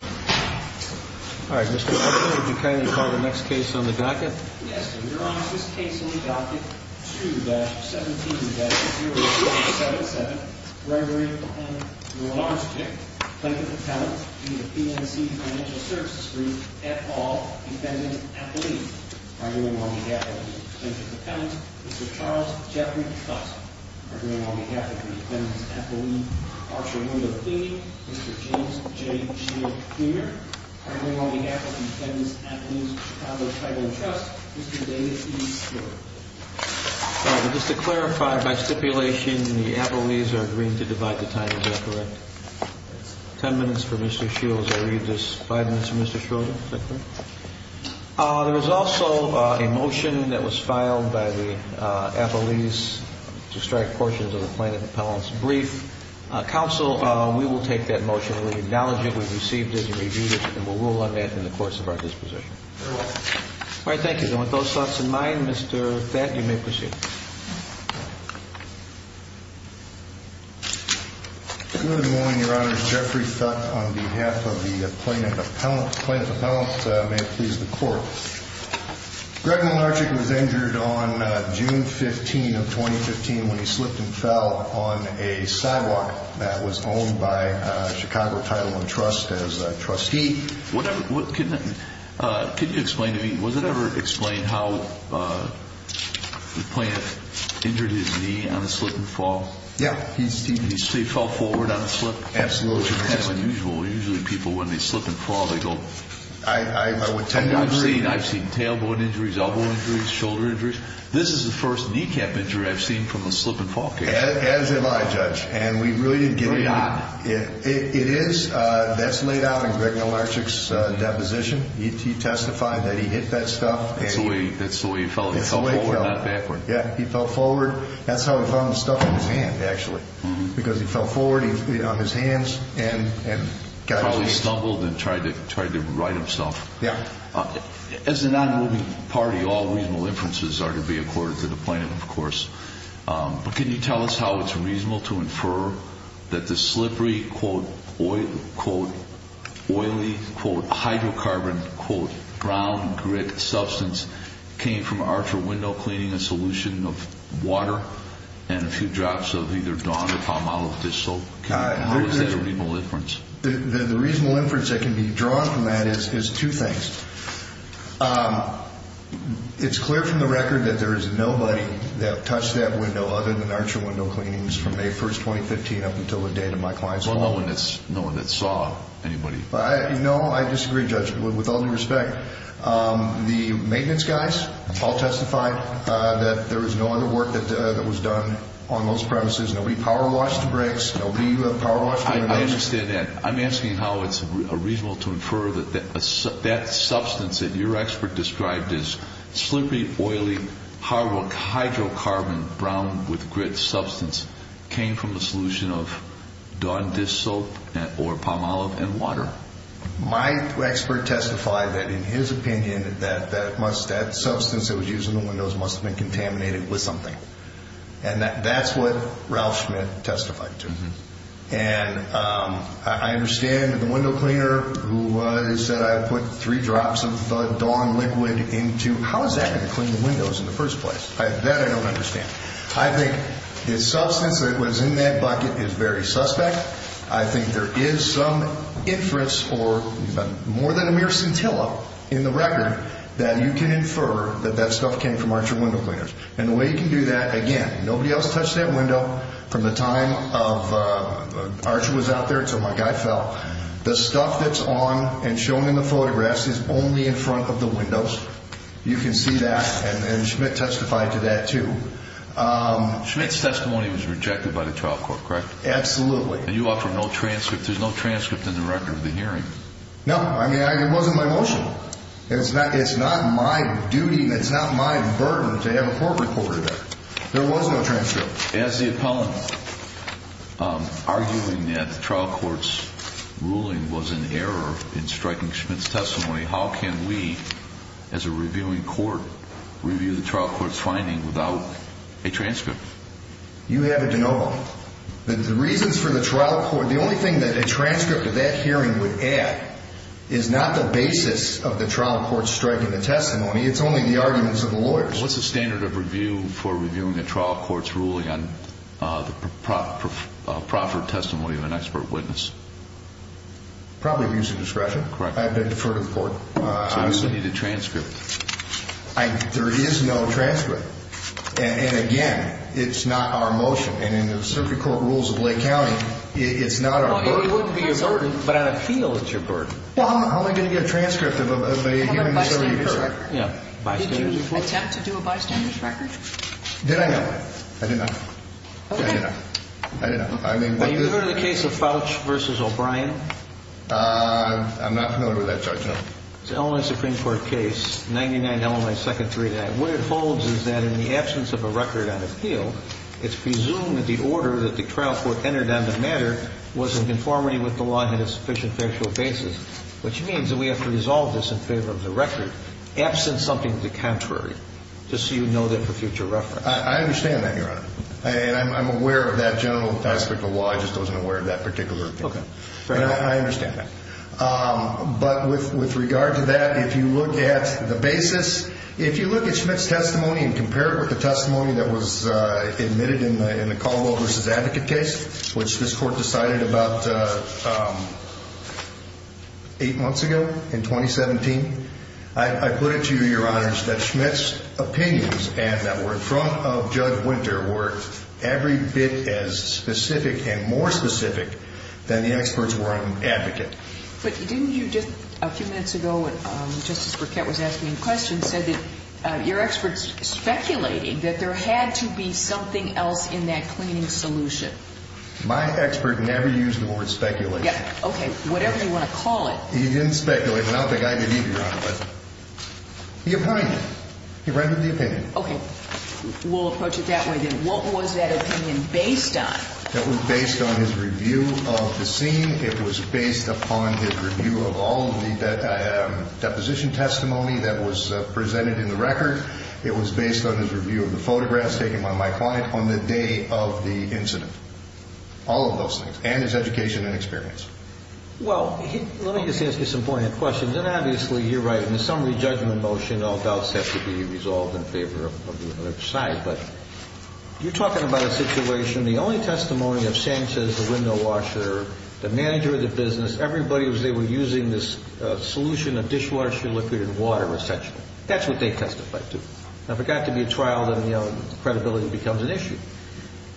Services Group, et al., Defendant's Affiliate, arguing on behalf of the plaintiff's Affiliate's Chicago Tribal Trust, Mr. David E. Schroeder. Just to clarify, by stipulation, the affiliates are agreeing to divide the time, is that correct? Ten minutes for Mr. Schroeder. I'll leave this five minutes for Mr. Schroeder. There was also a motion that was filed by the affiliates to strike portions of the plaintiff's brief. Counsel, we will take that motion, we acknowledge it, we've received it and reviewed it, and we'll rule on that in the course of our disposition. All right, thank you. And with those thoughts in mind, Mr. Thack, you may proceed. Good morning, Your Honors. Jeffrey Thack on behalf of the plaintiff's appellant. May it please the Court. Greg Mlynarczyk was injured on June 15 of 2015 when he slipped and fell on a sidewalk that was owned by Chicago Tribal Trust as a trustee. Can you explain to me, was it ever explained how the plaintiff injured his knee on a slip and fall? Yeah. He fell forward on a slip? Absolutely. That's kind of unusual. Usually people, when they slip and fall, they go... I would tend to agree. I've seen tailboard injuries, elbow injuries, shoulder injuries. This is the first kneecap injury I've seen from a slip and fall case. As have I, Judge. And we really agree. It is. That's laid out in Greg Mlynarczyk's deposition. He testified that he hit that stuff. That's the way he fell. He fell forward, not backward. He probably stumbled and tried to right himself. Yeah. As a non-moving party, all reasonable inferences are to be accorded to the plaintiff, of course. But can you tell us how it's reasonable to infer that the slippery, quote, oily, quote, hydrocarbon, quote, brown grit substance came from Archer Window Cleaning, including a solution of water and a few drops of either Dawn or Palmolive fish soap? How is that a reasonable inference? The reasonable inference that can be drawn from that is two things. It's clear from the record that there is nobody that touched that window other than Archer Window Cleanings from May 1, 2015 up until the date of my client's call. Well, no one that saw anybody. No, I disagree, Judge. With all due respect. The maintenance guys all testified that there was no other work that was done on those premises. Nobody power-washed the bricks. I understand that. I'm asking how it's reasonable to infer that that substance that your expert described as slippery, oily, hydrocarbon, brown with grit substance came from a solution of Dawn dish soap or Palmolive and water. My expert testified that in his opinion that that substance that was used in the windows must have been contaminated with something. And that's what Ralph Schmidt testified to. And I understand that the window cleaner who said I put three drops of the Dawn liquid into, how is that going to clean the windows in the first place? That I don't understand. I think the substance that was in that bucket is very suspect. I think there is some inference or more than a mere scintilla in the record that you can infer that that stuff came from Archer Window Cleaners. And the way you can do that, again, nobody else touched that window from the time of Archer was out there until my guy fell. The stuff that's on and shown in the photographs is only in front of the windows. You can see that. And Schmidt testified to that too. Schmidt's testimony was rejected by the trial court, correct? Absolutely. And you offer no transcript. There's no transcript in the record of the hearing. No. I mean, it wasn't my motion. It's not my duty and it's not my burden to have a court reporter there. There was no transcript. As the appellant, arguing that the trial court's ruling was an error in striking Schmidt's testimony, how can we, as a reviewing court, review the trial court's finding without a transcript? You have it to know, Bob. The reasons for the trial court, the only thing that a transcript of that hearing would add, is not the basis of the trial court striking the testimony, it's only the arguments of the lawyers. What's the standard of review for reviewing a trial court's ruling on the proper testimony of an expert witness? Probably abuse of discretion. Correct. I defer to the court. So you need a transcript. There is no transcript. And, again, it's not our motion. And in the circuit court rules of Lake County, it's not our burden. It wouldn't be your burden, but on appeal it's your burden. Well, how am I going to get a transcript of a hearing that's over a year's record? Bystander. Did you attempt to do a bystander's record? Did I not? I did not. Okay. I did not. I did not. Have you heard of the case of Fouch v. O'Brien? I'm not familiar with that charge, no. It's an Illinois Supreme Court case, 99 Illinois 2nd 399. What it holds is that in the absence of a record on appeal, it's presumed that the order that the trial court entered on the matter was in conformity with the law and had a sufficient factual basis, which means that we have to resolve this in favor of the record, absent something to the contrary, just so you know that for future reference. I understand that, Your Honor. And I'm aware of that general aspect of the law. I just wasn't aware of that particular appeal. Okay. Fair enough. I understand that. But with regard to that, if you look at the basis, if you look at Schmitt's testimony and compare it with the testimony that was admitted in the Caldwell v. Advocate case, which this court decided about eight months ago in 2017, I put it to you, Your Honors, that Schmitt's opinions and that were in front of Judge Winter were every bit as specific and more specific than the experts were on Advocate. But didn't you just a few minutes ago, when Justice Burkett was asking a question, said that your experts speculated that there had to be something else in that cleaning solution? My expert never used the word speculation. Okay. Whatever you want to call it. He didn't speculate. And I don't think I did either, Your Honor, but he opined it. He rendered the opinion. Okay. We'll approach it that way then. What was that opinion based on? It was based on his review of the scene. It was based upon his review of all of the deposition testimony that was presented in the record. It was based on his review of the photographs taken by my client on the day of the incident. All of those things. And his education and experience. Well, let me just ask you some poignant questions. And, obviously, you're right. In the summary judgment motion, all doubts have to be resolved in favor of the other side. But you're talking about a situation, the only testimony of Sanchez, the window washer, the manager of the business, everybody they were using this solution of dishwasher liquid and water, essentially. That's what they testified to. If it got to be a trial, then, you know, credibility becomes an issue.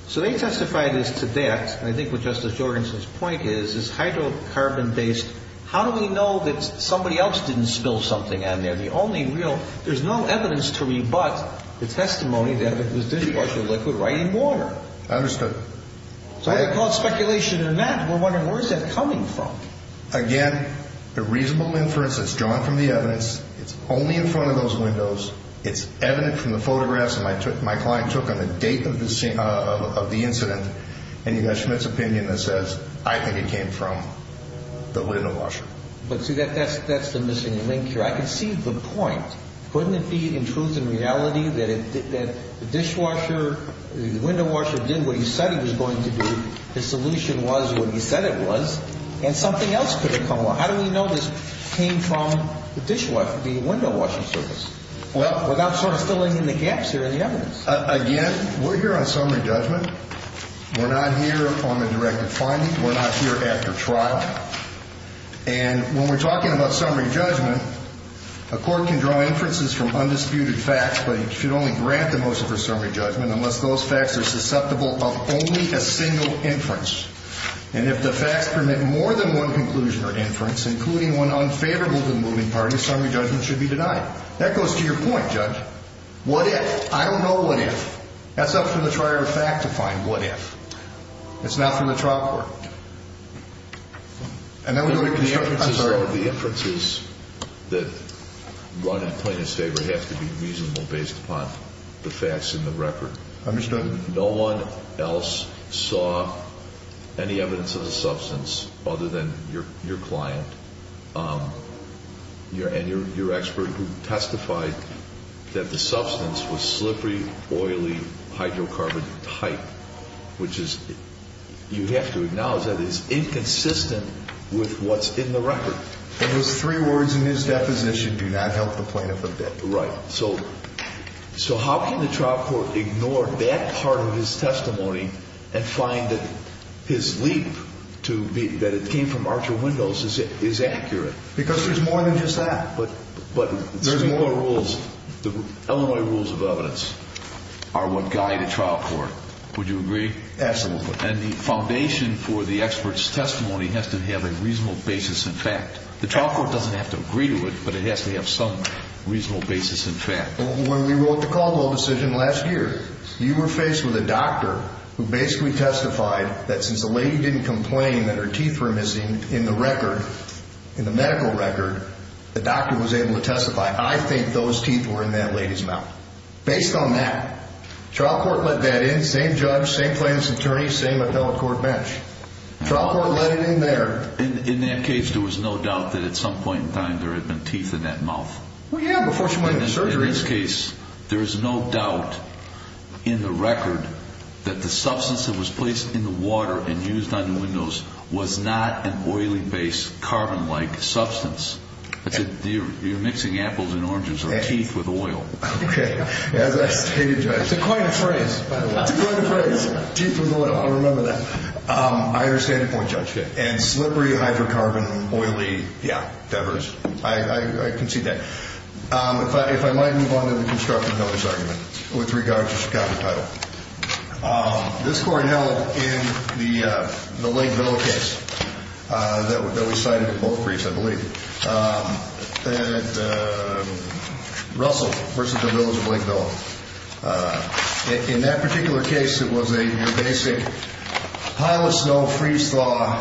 So they testified as to that. And I think what Justice Jorgenson's point is, is hydrocarbon-based, how do we know that somebody else didn't spill something on there? There's no evidence to rebut the testimony that it was dishwasher liquid right in water. I understood. So whether to call it speculation or not, we're wondering where is that coming from? Again, the reasonable inference is drawn from the evidence. It's only in front of those windows. It's evident from the photographs that my client took on the date of the incident. And you've got Schmidt's opinion that says, I think it came from the window washer. But, see, that's the missing link here. I can see the point. Couldn't it be in truth and reality that the dishwasher, the window washer, did what he said he was going to do, his solution was what he said it was, and something else could have come along? How do we know this came from the dishwasher, the window washing service, without sort of filling in the gaps here in the evidence? Again, we're here on summary judgment. We're not here on the directed finding. We're not here after trial. And when we're talking about summary judgment, a court can draw inferences from undisputed facts, but it should only grant the most of a summary judgment unless those facts are susceptible of only a single inference. And if the facts permit more than one conclusion or inference, including one unfavorable to the moving party, summary judgment should be denied. That goes to your point, Judge. What if? I don't know what if. That's up to the trier of fact to find what if. It's not from the trial court. And then we're going to construct the summary. The inferences that run in plaintiff's favor have to be reasonable based upon the facts in the record. Understood. No one else saw any evidence of the substance other than your client and your expert who testified that the substance was slippery, oily, hydrocarbon tight, which you have to acknowledge that is inconsistent with what's in the record. And those three words in his deposition do not help the plaintiff with that. Right. So how can the trial court ignore that part of his testimony and find that his leap, that it came from Archer Windows, is accurate? Because there's more than just that. But there's more rules. The Illinois rules of evidence are what guide a trial court. Would you agree? Absolutely. And the foundation for the expert's testimony has to have a reasonable basis in fact. The trial court doesn't have to agree to it, but it has to have some reasonable basis in fact. When we wrote the Caldwell decision last year, you were faced with a doctor who basically testified that since the lady didn't complain that her teeth were missing in the record, in the medical record, the doctor was able to testify, I think those teeth were in that lady's mouth. Based on that, trial court let that in. Same judge, same plaintiff's attorney, same appellate court bench. Trial court let it in there. In that case, there was no doubt that at some point in time there had been teeth in that mouth. Well, yeah, before she went into surgery. In this case, there is no doubt in the record that the substance that was placed in the water and used on the windows was not an oily-based carbon-like substance. You're mixing apples and oranges or teeth with oil. Okay. As I stated, Judge. It's a coined phrase, by the way. It's a coined phrase. Teeth with oil. I'll remember that. I understand your point, Judge. And slippery, hydrocarbon, oily, yeah, feathers. I concede that. If I might move on to the constructive notice argument with regard to Chicago Title. This court held in the Lake Villa case that we cited in both briefs, I believe, that Russell versus the Villas of Lake Villa. In that particular case, it was a basic pile of snow, freeze-thaw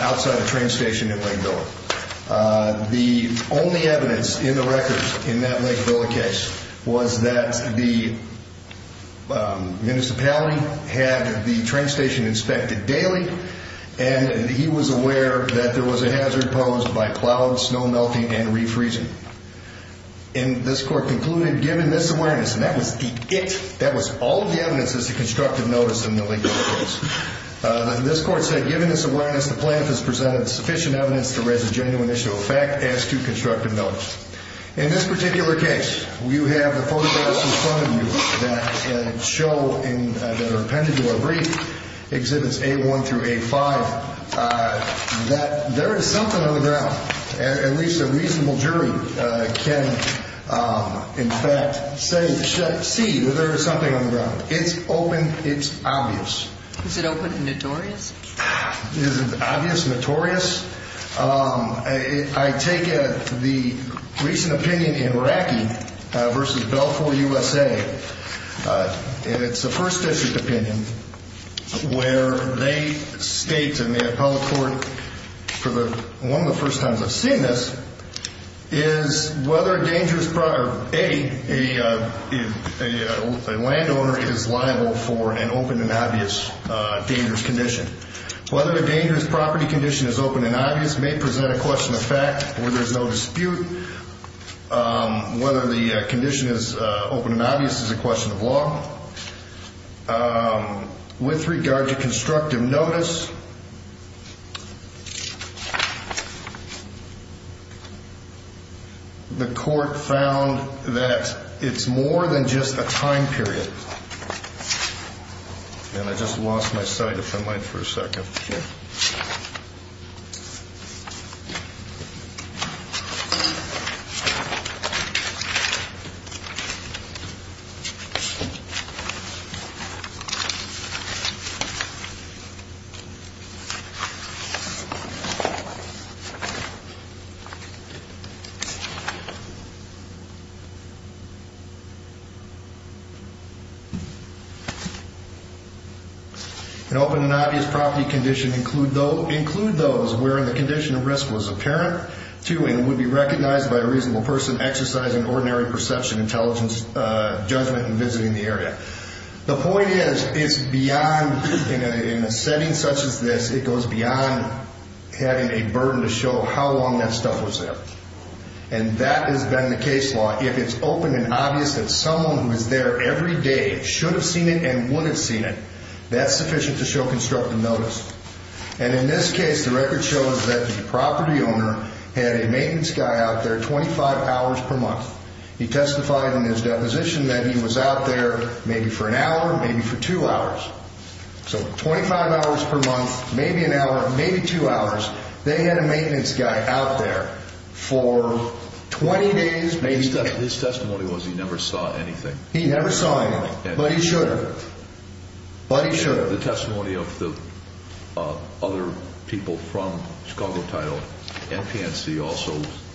outside a train station in Lake Villa. The only evidence in the record in that Lake Villa case was that the municipality had the train station inspected daily, and he was aware that there was a hazard posed by clouds, snow melting, and refreezing. And this court concluded, given this awareness, and that was the it, that was all of the evidence as to constructive notice in the Lake Villa case. This court said, given this awareness, the plaintiff has presented sufficient evidence to raise a genuine issue of fact as to constructive notice. In this particular case, you have the photographs in front of you that show, that are appended to our brief, Exhibits A1 through A5, that there is something on the ground. At least a reasonable jury can, in fact, see that there is something on the ground. It's open, it's obvious. Is it open and notorious? Is it obvious, notorious? I take the recent opinion in Racky versus Belfort, USA. It's a first district opinion, where they state in the appellate court, for one of the first times I've seen this, is whether a landowner is liable for an open and obvious dangerous condition. Whether a dangerous property condition is open and obvious may present a question of fact, where there's no dispute. Whether the condition is open and obvious is a question of law. With regard to constructive notice, the court found that it's more than just a time period. And I just lost my sight, if I might for a second. Sure. Thank you. And would be recognized by a reasonable person exercising ordinary perception, intelligence, judgment in visiting the area. The point is, it's beyond, in a setting such as this, it goes beyond having a burden to show how long that stuff was there. And that has been the case law. If it's open and obvious that someone who is there every day should have seen it and would have seen it, that's sufficient to show constructive notice. And in this case, the record shows that the property owner had a maintenance guy out there 25 hours per month. He testified in his deposition that he was out there maybe for an hour, maybe for two hours. So 25 hours per month, maybe an hour, maybe two hours. They had a maintenance guy out there for 20 days. His testimony was he never saw anything. He never saw anything. But he should have. But he should have. The testimony of the other people from Chicago Title, NPNC also,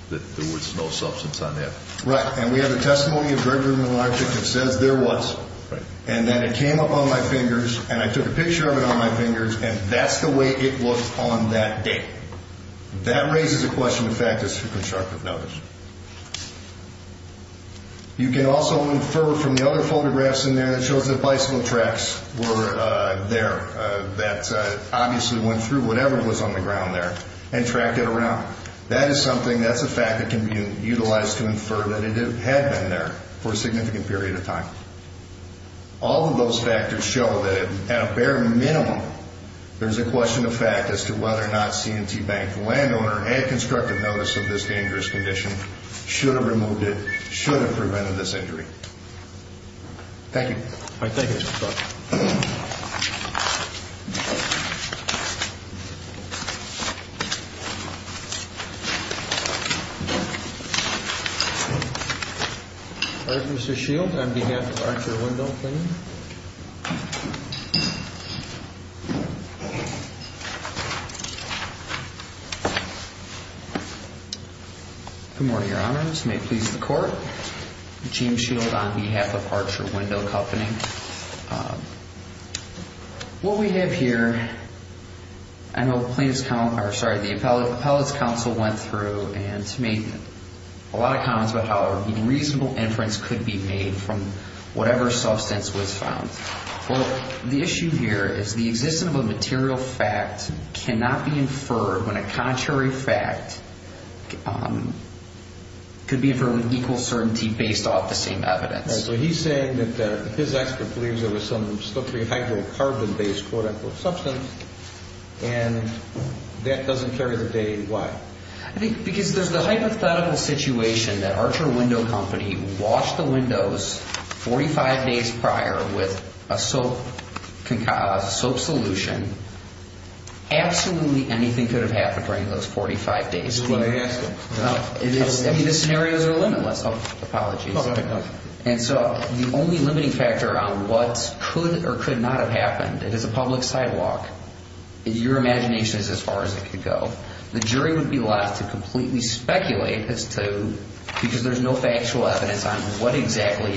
that there was no substance on that. Right. And we have the testimony of Gregory Miller, I think, that says there was. Right. And that it came up on my fingers, and I took a picture of it on my fingers, and that's the way it looked on that day. That raises the question, in fact, as to constructive notice. You can also infer from the other photographs in there that shows that bicycle tracks were there. That obviously went through whatever was on the ground there and tracked it around. That is something that's a fact that can be utilized to infer that it had been there for a significant period of time. All of those factors show that at a bare minimum, there's a question of fact as to whether or not C&T Bank, landowner, had constructive notice of this dangerous condition, should have removed it, should have prevented this injury. Thank you. All right. Thank you, Mr. Scott. All right, Mr. Shield, on behalf of Archer Window Company. Good morning, Your Honors. May it please the Court. Gene Shield on behalf of Archer Window Company. What we have here, I know the plaintiff's counsel, or sorry, the appellate's counsel went through and made a lot of comments about how a reasonable inference could be made from whatever substance was found. Well, the issue here is the existence of a material fact cannot be inferred when a contrary fact could be inferred with equal certainty based off the same evidence. All right, so he's saying that his expert believes there was some slippery hydrocarbon-based, quote-unquote, substance, and that doesn't carry the date. Why? Because there's the hypothetical situation that Archer Window Company washed the windows 45 days prior with a soap solution. Absolutely anything could have happened during those 45 days. This is what I asked him. I mean, the scenarios are limitless. Apologies. Go ahead. And so the only limiting factor on what could or could not have happened, it is a public sidewalk. Your imagination is as far as it could go. The jury would be left to completely speculate as to, because there's no factual evidence on what exactly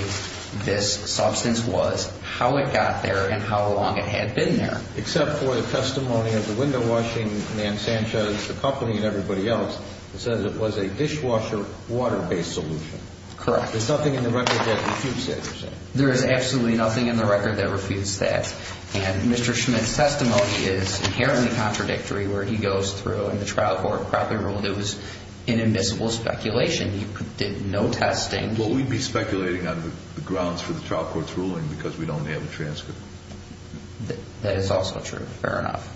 this substance was, how it got there, and how long it had been there. Except for the testimony of the window washing man, Sanchez, the company, and everybody else, that says it was a dishwasher water-based solution. Correct. There's nothing in the record that refutes that, you're saying? There is absolutely nothing in the record that refutes that. And Mr. Schmidt's testimony is inherently contradictory where he goes through, and the trial court probably ruled it was invisible speculation. He did no testing. Well, we'd be speculating on the grounds for the trial court's ruling because we don't have a transcript. That is also true. Fair enough.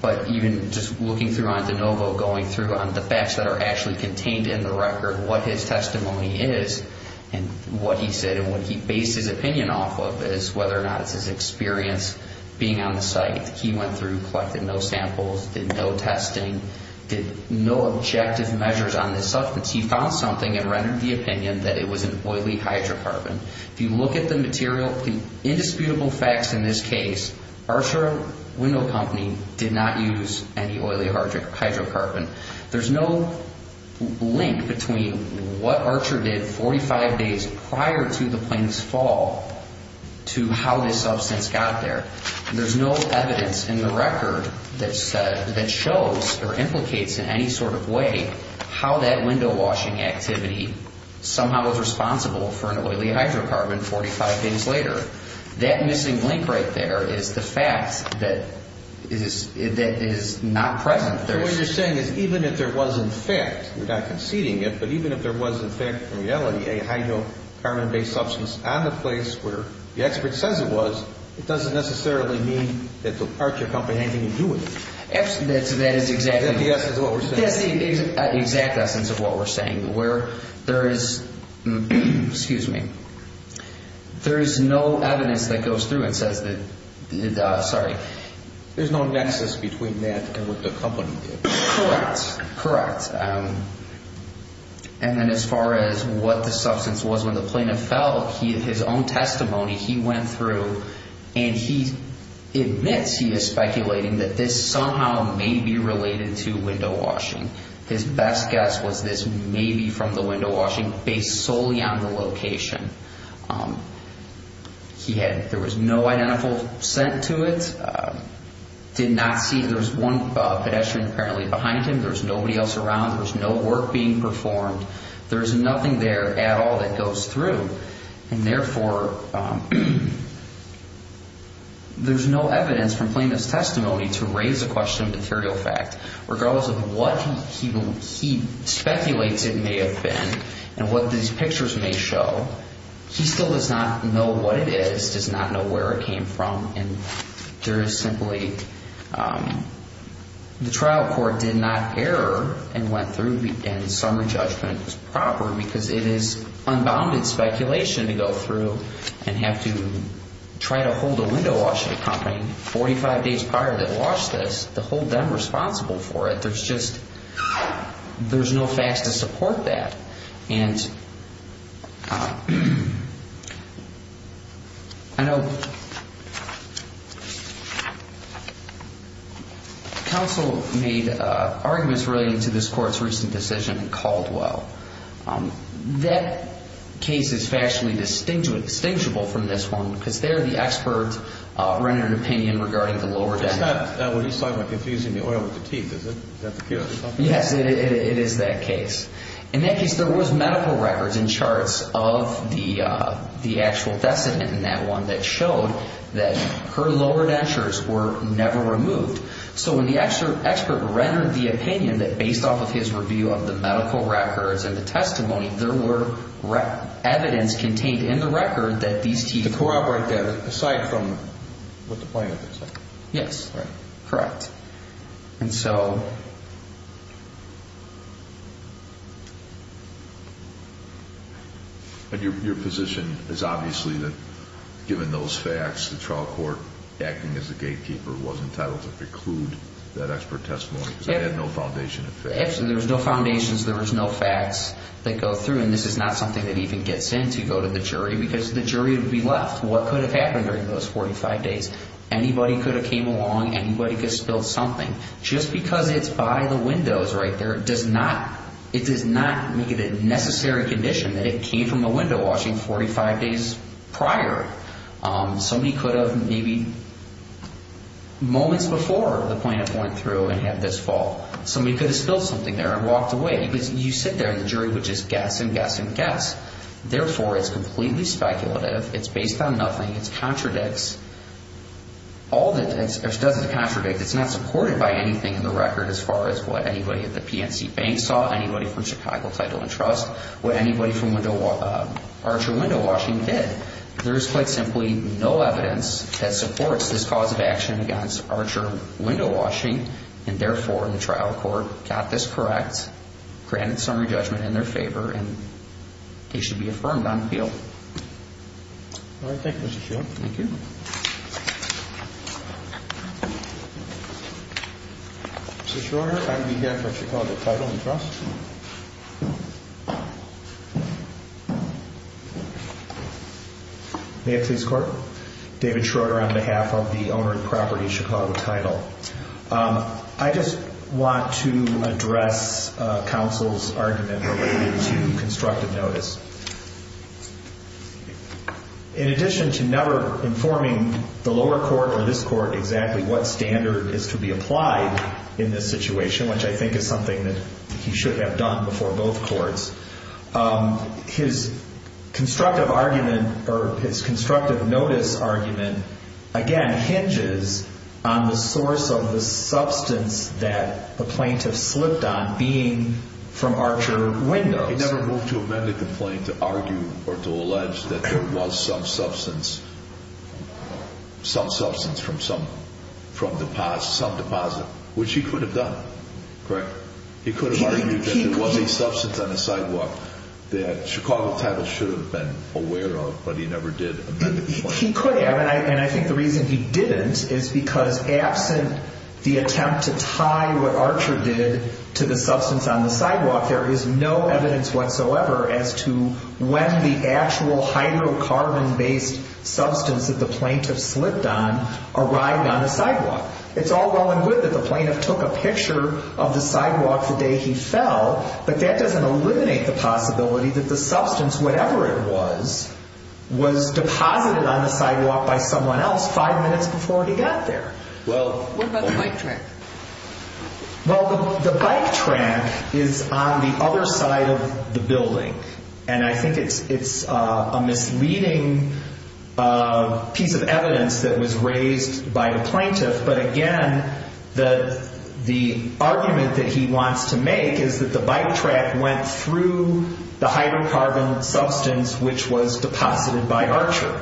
But even just looking through on DeNovo, going through on the facts that are actually contained in the record, what his testimony is, and what he said, and what he based his opinion off of, is whether or not it's his experience being on the site. He went through, collected no samples, did no testing, did no objective measures on this substance. He found something and rendered the opinion that it was an oily hydrocarbon. If you look at the material, the indisputable facts in this case, Archer Window Company did not use any oily hydrocarbon. There's no link between what Archer did 45 days prior to the plaintiff's fall to how this substance got there. There's no evidence in the record that shows or implicates in any sort of way how that window-washing activity somehow was responsible for an oily hydrocarbon 45 days later. That missing link right there is the fact that is not present. So what you're saying is even if there was, in fact, we're not conceding it, but even if there was, in fact, in reality, a hydrocarbon-based substance on the place where the expert says it was, it doesn't necessarily mean that the Archer Company had anything to do with it. That is exactly what we're saying. That's the exact essence of what we're saying, where there is, excuse me, there is no evidence that goes through and says that, sorry. There's no nexus between that and what the company did. Correct, correct. And then as far as what the substance was when the plaintiff fell, his own testimony, he went through and he admits he is speculating that this somehow may be related to window-washing. His best guess was this may be from the window-washing based solely on the location. He had, there was no identical scent to it, did not see, there was one pedestrian apparently behind him. There was nobody else around. There was no work being performed. There is nothing there at all that goes through. And therefore, there's no evidence from plaintiff's testimony to raise the question of material fact. Regardless of what he speculates it may have been and what these pictures may show, he still does not know what it is, does not know where it came from. And there is simply, the trial court did not err and went through and summary judgment was proper because it is unbounded speculation to go through and have to try to hold a window-washing company 45 days prior that launched this to hold them responsible for it. There's just, there's no facts to support that. And I know counsel made arguments relating to this court's recent decision in Caldwell. That case is factually distinguishable from this one because they're the experts running an opinion regarding the lower deck. Is that what he's talking about, confusing the oil with the teeth, is that the case? Yes, it is that case. In that case, there was medical records and charts of the actual decedent in that one that showed that her lower dentures were never removed. So when the expert rendered the opinion that based off of his review of the medical records and the testimony, there were evidence contained in the record that these teeth... To corroborate that, aside from what the plaintiff said. Yes, correct. And so... Your position is obviously that given those facts, the trial court acting as the gatekeeper was entitled to preclude that expert testimony because it had no foundation of facts. Absolutely, there was no foundations, there was no facts that go through, and this is not something that even gets in to go to the jury because the jury would be left. What could have happened during those 45 days? Anybody could have came along, anybody could have spilled something. Just because it's by the windows right there, it does not make it a necessary condition that it came from a window washing 45 days prior. Somebody could have maybe moments before the plaintiff went through and had this fall. Somebody could have spilled something there and walked away because you sit there and the jury would just guess and guess and guess. Therefore, it's completely speculative. It's based on nothing. It contradicts. All that it does is contradict. It's not supported by anything in the record as far as what anybody at the PNC Bank saw, anybody from Chicago Title and Trust, what anybody from Archer Window Washing did. There is quite simply no evidence that supports this cause of action against Archer Window Washing, and therefore the trial court got this correct, granted summary judgment in their favor, and he should be affirmed on appeal. All right. Thank you, Mr. Schroeder. Thank you. Mr. Schroeder, on behalf of Chicago Title and Trust. May I please court? David Schroeder on behalf of the owner of the property, Chicago Title. I just want to address counsel's argument related to constructive notice. In addition to never informing the lower court or this court exactly what standard is to be applied in this situation, which I think is something that he should have done before both courts, his constructive argument or his constructive notice argument, again, hinges on the source of the substance that the plaintiff slipped on being from Archer Windows. He never moved to amend the complaint to argue or to allege that there was some substance, some substance from some deposit, which he could have done, correct? He could have argued that there was a substance on the sidewalk that Chicago Title should have been aware of, but he never did amend the complaint. He could have, and I think the reason he didn't is because absent the attempt to tie what Archer did to the substance on the sidewalk, there is no evidence whatsoever as to when the actual hydrocarbon-based substance that the plaintiff slipped on arrived on the sidewalk. It's all well and good that the plaintiff took a picture of the sidewalk the day he fell, but that doesn't eliminate the possibility that the substance, whatever it was, was deposited on the sidewalk by someone else five minutes before he got there. What about the bike track? Well, the bike track is on the other side of the building, and I think it's a misleading piece of evidence that was raised by the plaintiff, but again, the argument that he wants to make is that the bike track went through the hydrocarbon substance, which was deposited by Archer,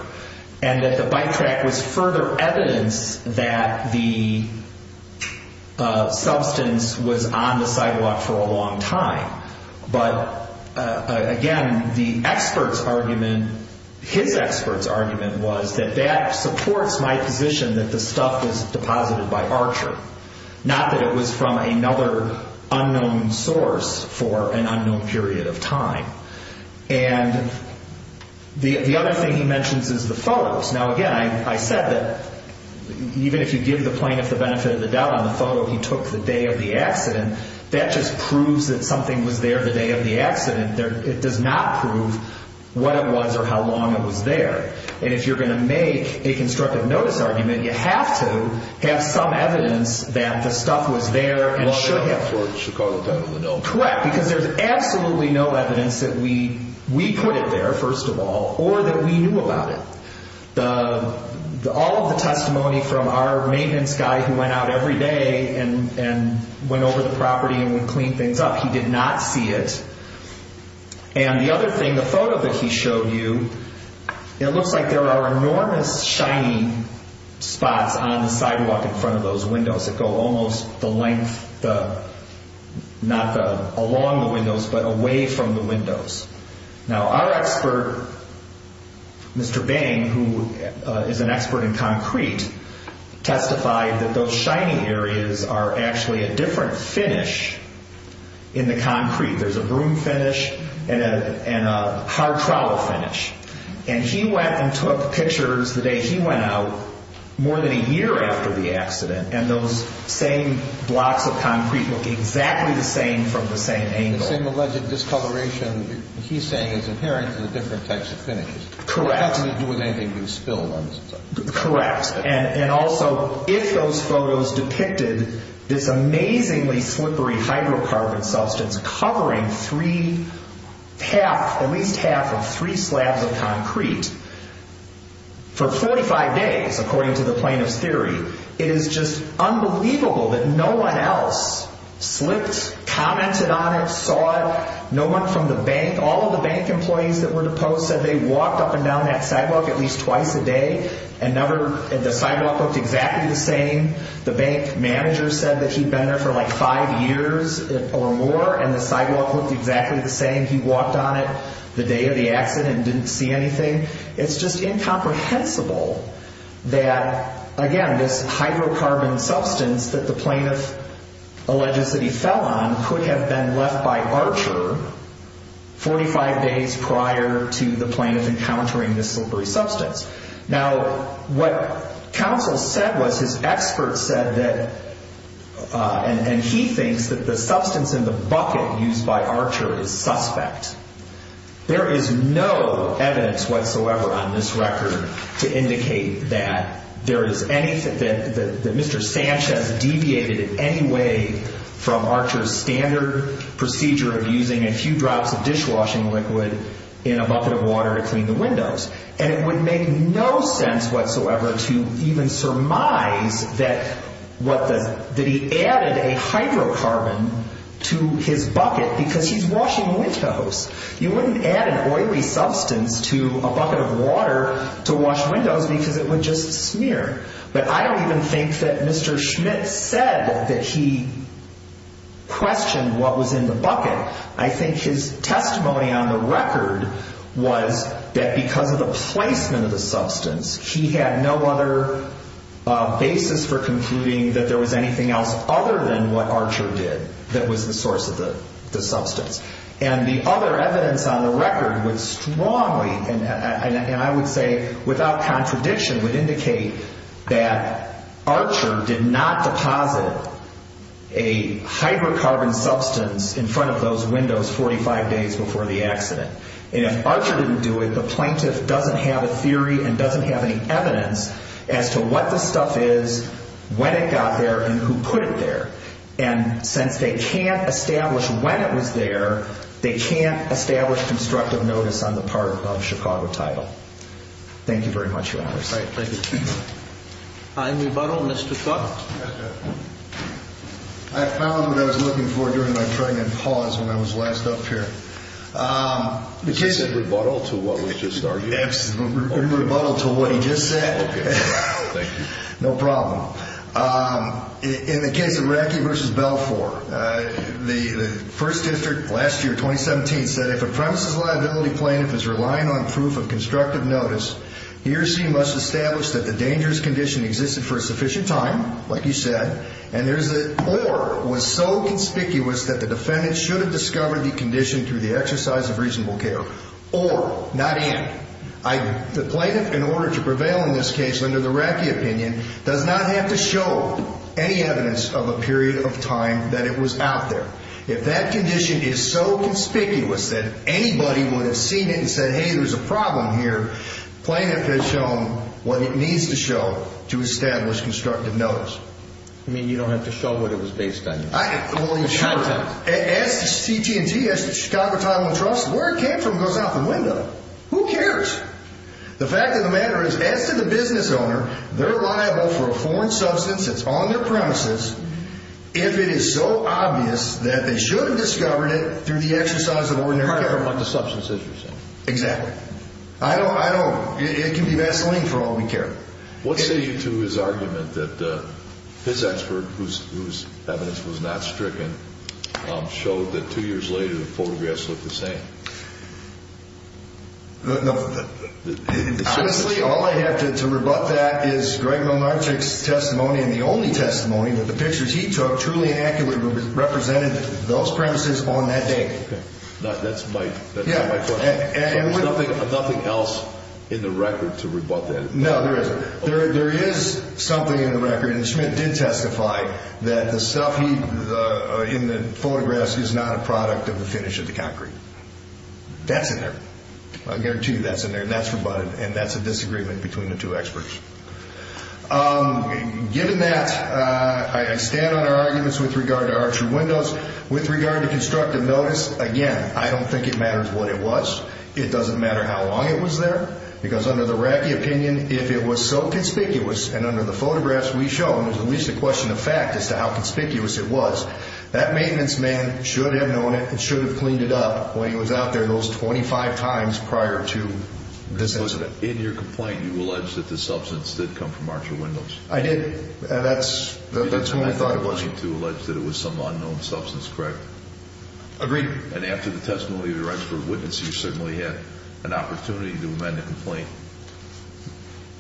and that the bike track was further evidence that the substance was on the sidewalk for a long time. But again, the expert's argument, his expert's argument, was that that supports my position that the stuff was deposited by Archer, not that it was from another unknown source for an unknown period of time. And the other thing he mentions is the photos. Now, again, I said that even if you give the plaintiff the benefit of the doubt on the photo he took the day of the accident, that just proves that something was there the day of the accident. It does not prove what it was or how long it was there. And if you're going to make a constructive notice argument, you have to have some evidence that the stuff was there and should have been. Long enough for Chicago time to know. Correct, because there's absolutely no evidence that we put it there, first of all, or that we knew about it. All of the testimony from our maintenance guy who went out every day and went over the property and would clean things up, he did not see it. And the other thing, the photo that he showed you, it looks like there are enormous shiny spots on the sidewalk in front of those windows that go almost the length, not along the windows, but away from the windows. Now, our expert, Mr. Bang, who is an expert in concrete, testified that those shiny areas are actually a different finish in the concrete. There's a broom finish and a hard trowel finish. And he went and took pictures the day he went out more than a year after the accident, and those same blocks of concrete look exactly the same from the same angle. The same alleged discoloration he's saying is inherent to the different types of finishes. Correct. It doesn't have to do with anything being spilled on the sidewalk. Correct. And also, if those photos depicted this amazingly slippery hydrocarbon substance covering at least half of three slabs of concrete for 45 days, according to the plaintiff's theory, it is just unbelievable that no one else slipped, commented on it, saw it. No one from the bank, all of the bank employees that were deposed, said they walked up and down that sidewalk at least twice a day, and the sidewalk looked exactly the same. The bank manager said that he'd been there for like five years or more, and the sidewalk looked exactly the same. He walked on it the day of the accident and didn't see anything. It's just incomprehensible that, again, this hydrocarbon substance that the plaintiff alleges that he fell on could have been left by Archer 45 days prior to the plaintiff encountering this slippery substance. Now, what counsel said was his expert said that, and he thinks that the substance in the bucket used by Archer is suspect. There is no evidence whatsoever on this record to indicate that Mr. Sanchez deviated in any way from Archer's standard procedure of using a few drops of dishwashing liquid in a bucket of water to clean the windows, and it would make no sense whatsoever to even surmise that he added a hydrocarbon to his bucket because he's washing windows. You wouldn't add an oily substance to a bucket of water to wash windows because it would just smear. But I don't even think that Mr. Schmidt said that he questioned what was in the bucket. I think his testimony on the record was that because of the placement of the substance, he had no other basis for concluding that there was anything else other than what Archer did that was the source of the substance. And the other evidence on the record would strongly, and I would say without contradiction, would indicate that Archer did not deposit a hydrocarbon substance in front of those windows 45 days before the accident. And if Archer didn't do it, the plaintiff doesn't have a theory and doesn't have any evidence as to what the stuff is, when it got there, and who put it there. And since they can't establish when it was there, they can't establish constructive notice on the part of Chicago Title. Thank you very much, Your Honors. Thank you. I rebuttal Mr. Scott. I found what I was looking for during my pregnant pause when I was last up here. You said rebuttal to what we just argued? Yes, rebuttal to what he just said. Okay, thank you. No problem. In the case of Racky v. Belfour, the first district last year, 2017, said, if a premises liability plaintiff is relying on proof of constructive notice, he or she must establish that the dangerous condition existed for a sufficient time, like you said, or was so conspicuous that the defendant should have discovered the condition through the exercise of reasonable care. Or, not and. The plaintiff, in order to prevail in this case under the Racky opinion, does not have to show any evidence of a period of time that it was out there. If that condition is so conspicuous that anybody would have seen it and said, hey, there's a problem here, plaintiff has shown what it needs to show to establish constructive notice. You mean you don't have to show what it was based on? Well, you're short. The context. Ask the CT&T, ask the Chicago Title and Trust, where it came from goes out the window. Who cares? The fact of the matter is, as to the business owner, they're liable for a foreign substance that's on their premises if it is so obvious that they should have discovered it through the exercise of ordinary care. It's a matter of what the substance is, you're saying. Exactly. I don't, I don't, it can be Vaseline for all we care. What say you to his argument that his expert, whose evidence was not stricken, showed that two years later the photographs look the same? No. Honestly, all I have to rebut that is Greg Mamarchuk's testimony and the only testimony that the pictures he took truly and accurately represented those premises on that day. Okay. That's my, that's not my point. Yeah. There's nothing else in the record to rebut that. No, there isn't. There is something in the record, and Schmidt did testify, that the stuff in the photographs is not a product of the finish of the concrete. That's in there. I guarantee you that's in there, and that's rebutted, and that's a disagreement between the two experts. Given that, I stand on our arguments with regard to our true windows. With regard to constructive notice, again, I don't think it matters what it was. It doesn't matter how long it was there, because under the Racky opinion, if it was so conspicuous, and under the photographs we show, and there's at least a question of fact as to how conspicuous it was, that maintenance man should have known it and should have cleaned it up when he was out there those 25 times prior to this incident. In your complaint, you alleged that the substance did come from our true windows. I did. That's when we thought it was. You did not make a complaint to allege that it was some unknown substance, correct? Agreed. And after the testimony of the registered witness, you certainly had an opportunity to amend the complaint,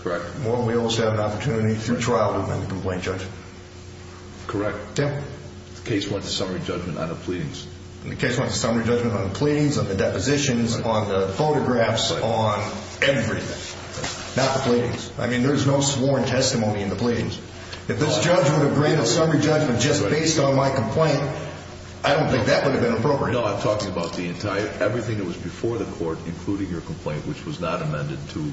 correct? Well, we always have an opportunity through trial to amend the complaint, Judge. Correct. The case went to summary judgment on the pleadings. The case went to summary judgment on the pleadings, on the depositions, on the photographs, on everything. Not the pleadings. I mean, there's no sworn testimony in the pleadings. If this judge would have agreed a summary judgment just based on my complaint, I don't think that would have been appropriate. No, I'm talking about everything that was before the court, including your complaint, which was not amended to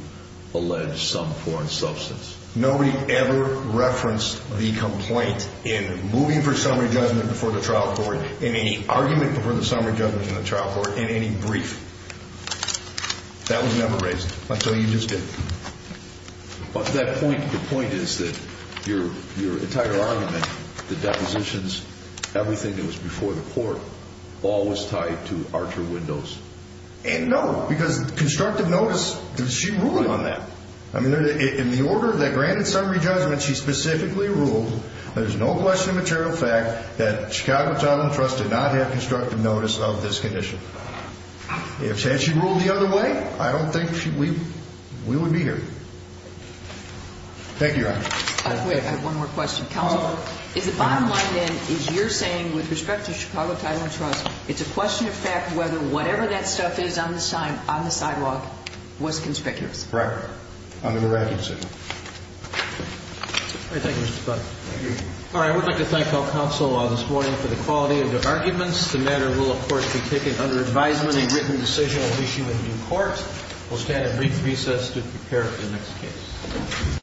allege some foreign substance. Nobody ever referenced the complaint in moving for summary judgment before the trial court, in any argument before the summary judgment in the trial court, in any brief. That was never raised until you just did. But the point is that your entire argument, the depositions, everything that was before the court, all was tied to our true windows. And no, because constructive notice, she ruled on that. I mean, in the order of that granted summary judgment, she specifically ruled, there's no question of material fact, that Chicago Title and Trust did not have constructive notice of this condition. Had she ruled the other way, I don't think we would be here. Thank you, Your Honor. I have one more question. Counsel, is the bottom line, then, is you're saying with respect to Chicago Title and Trust, it's a question of fact whether whatever that stuff is on the sidewalk was conspicuous? Correct. Under the record, sir. All right. Thank you, Mr. Scott. Thank you. All right. I would like to thank all counsel this morning for the quality of their arguments. The matter will, of course, be taken under advisement and written decision. We'll meet you in the new court. We'll stand at brief recess to prepare for the next case.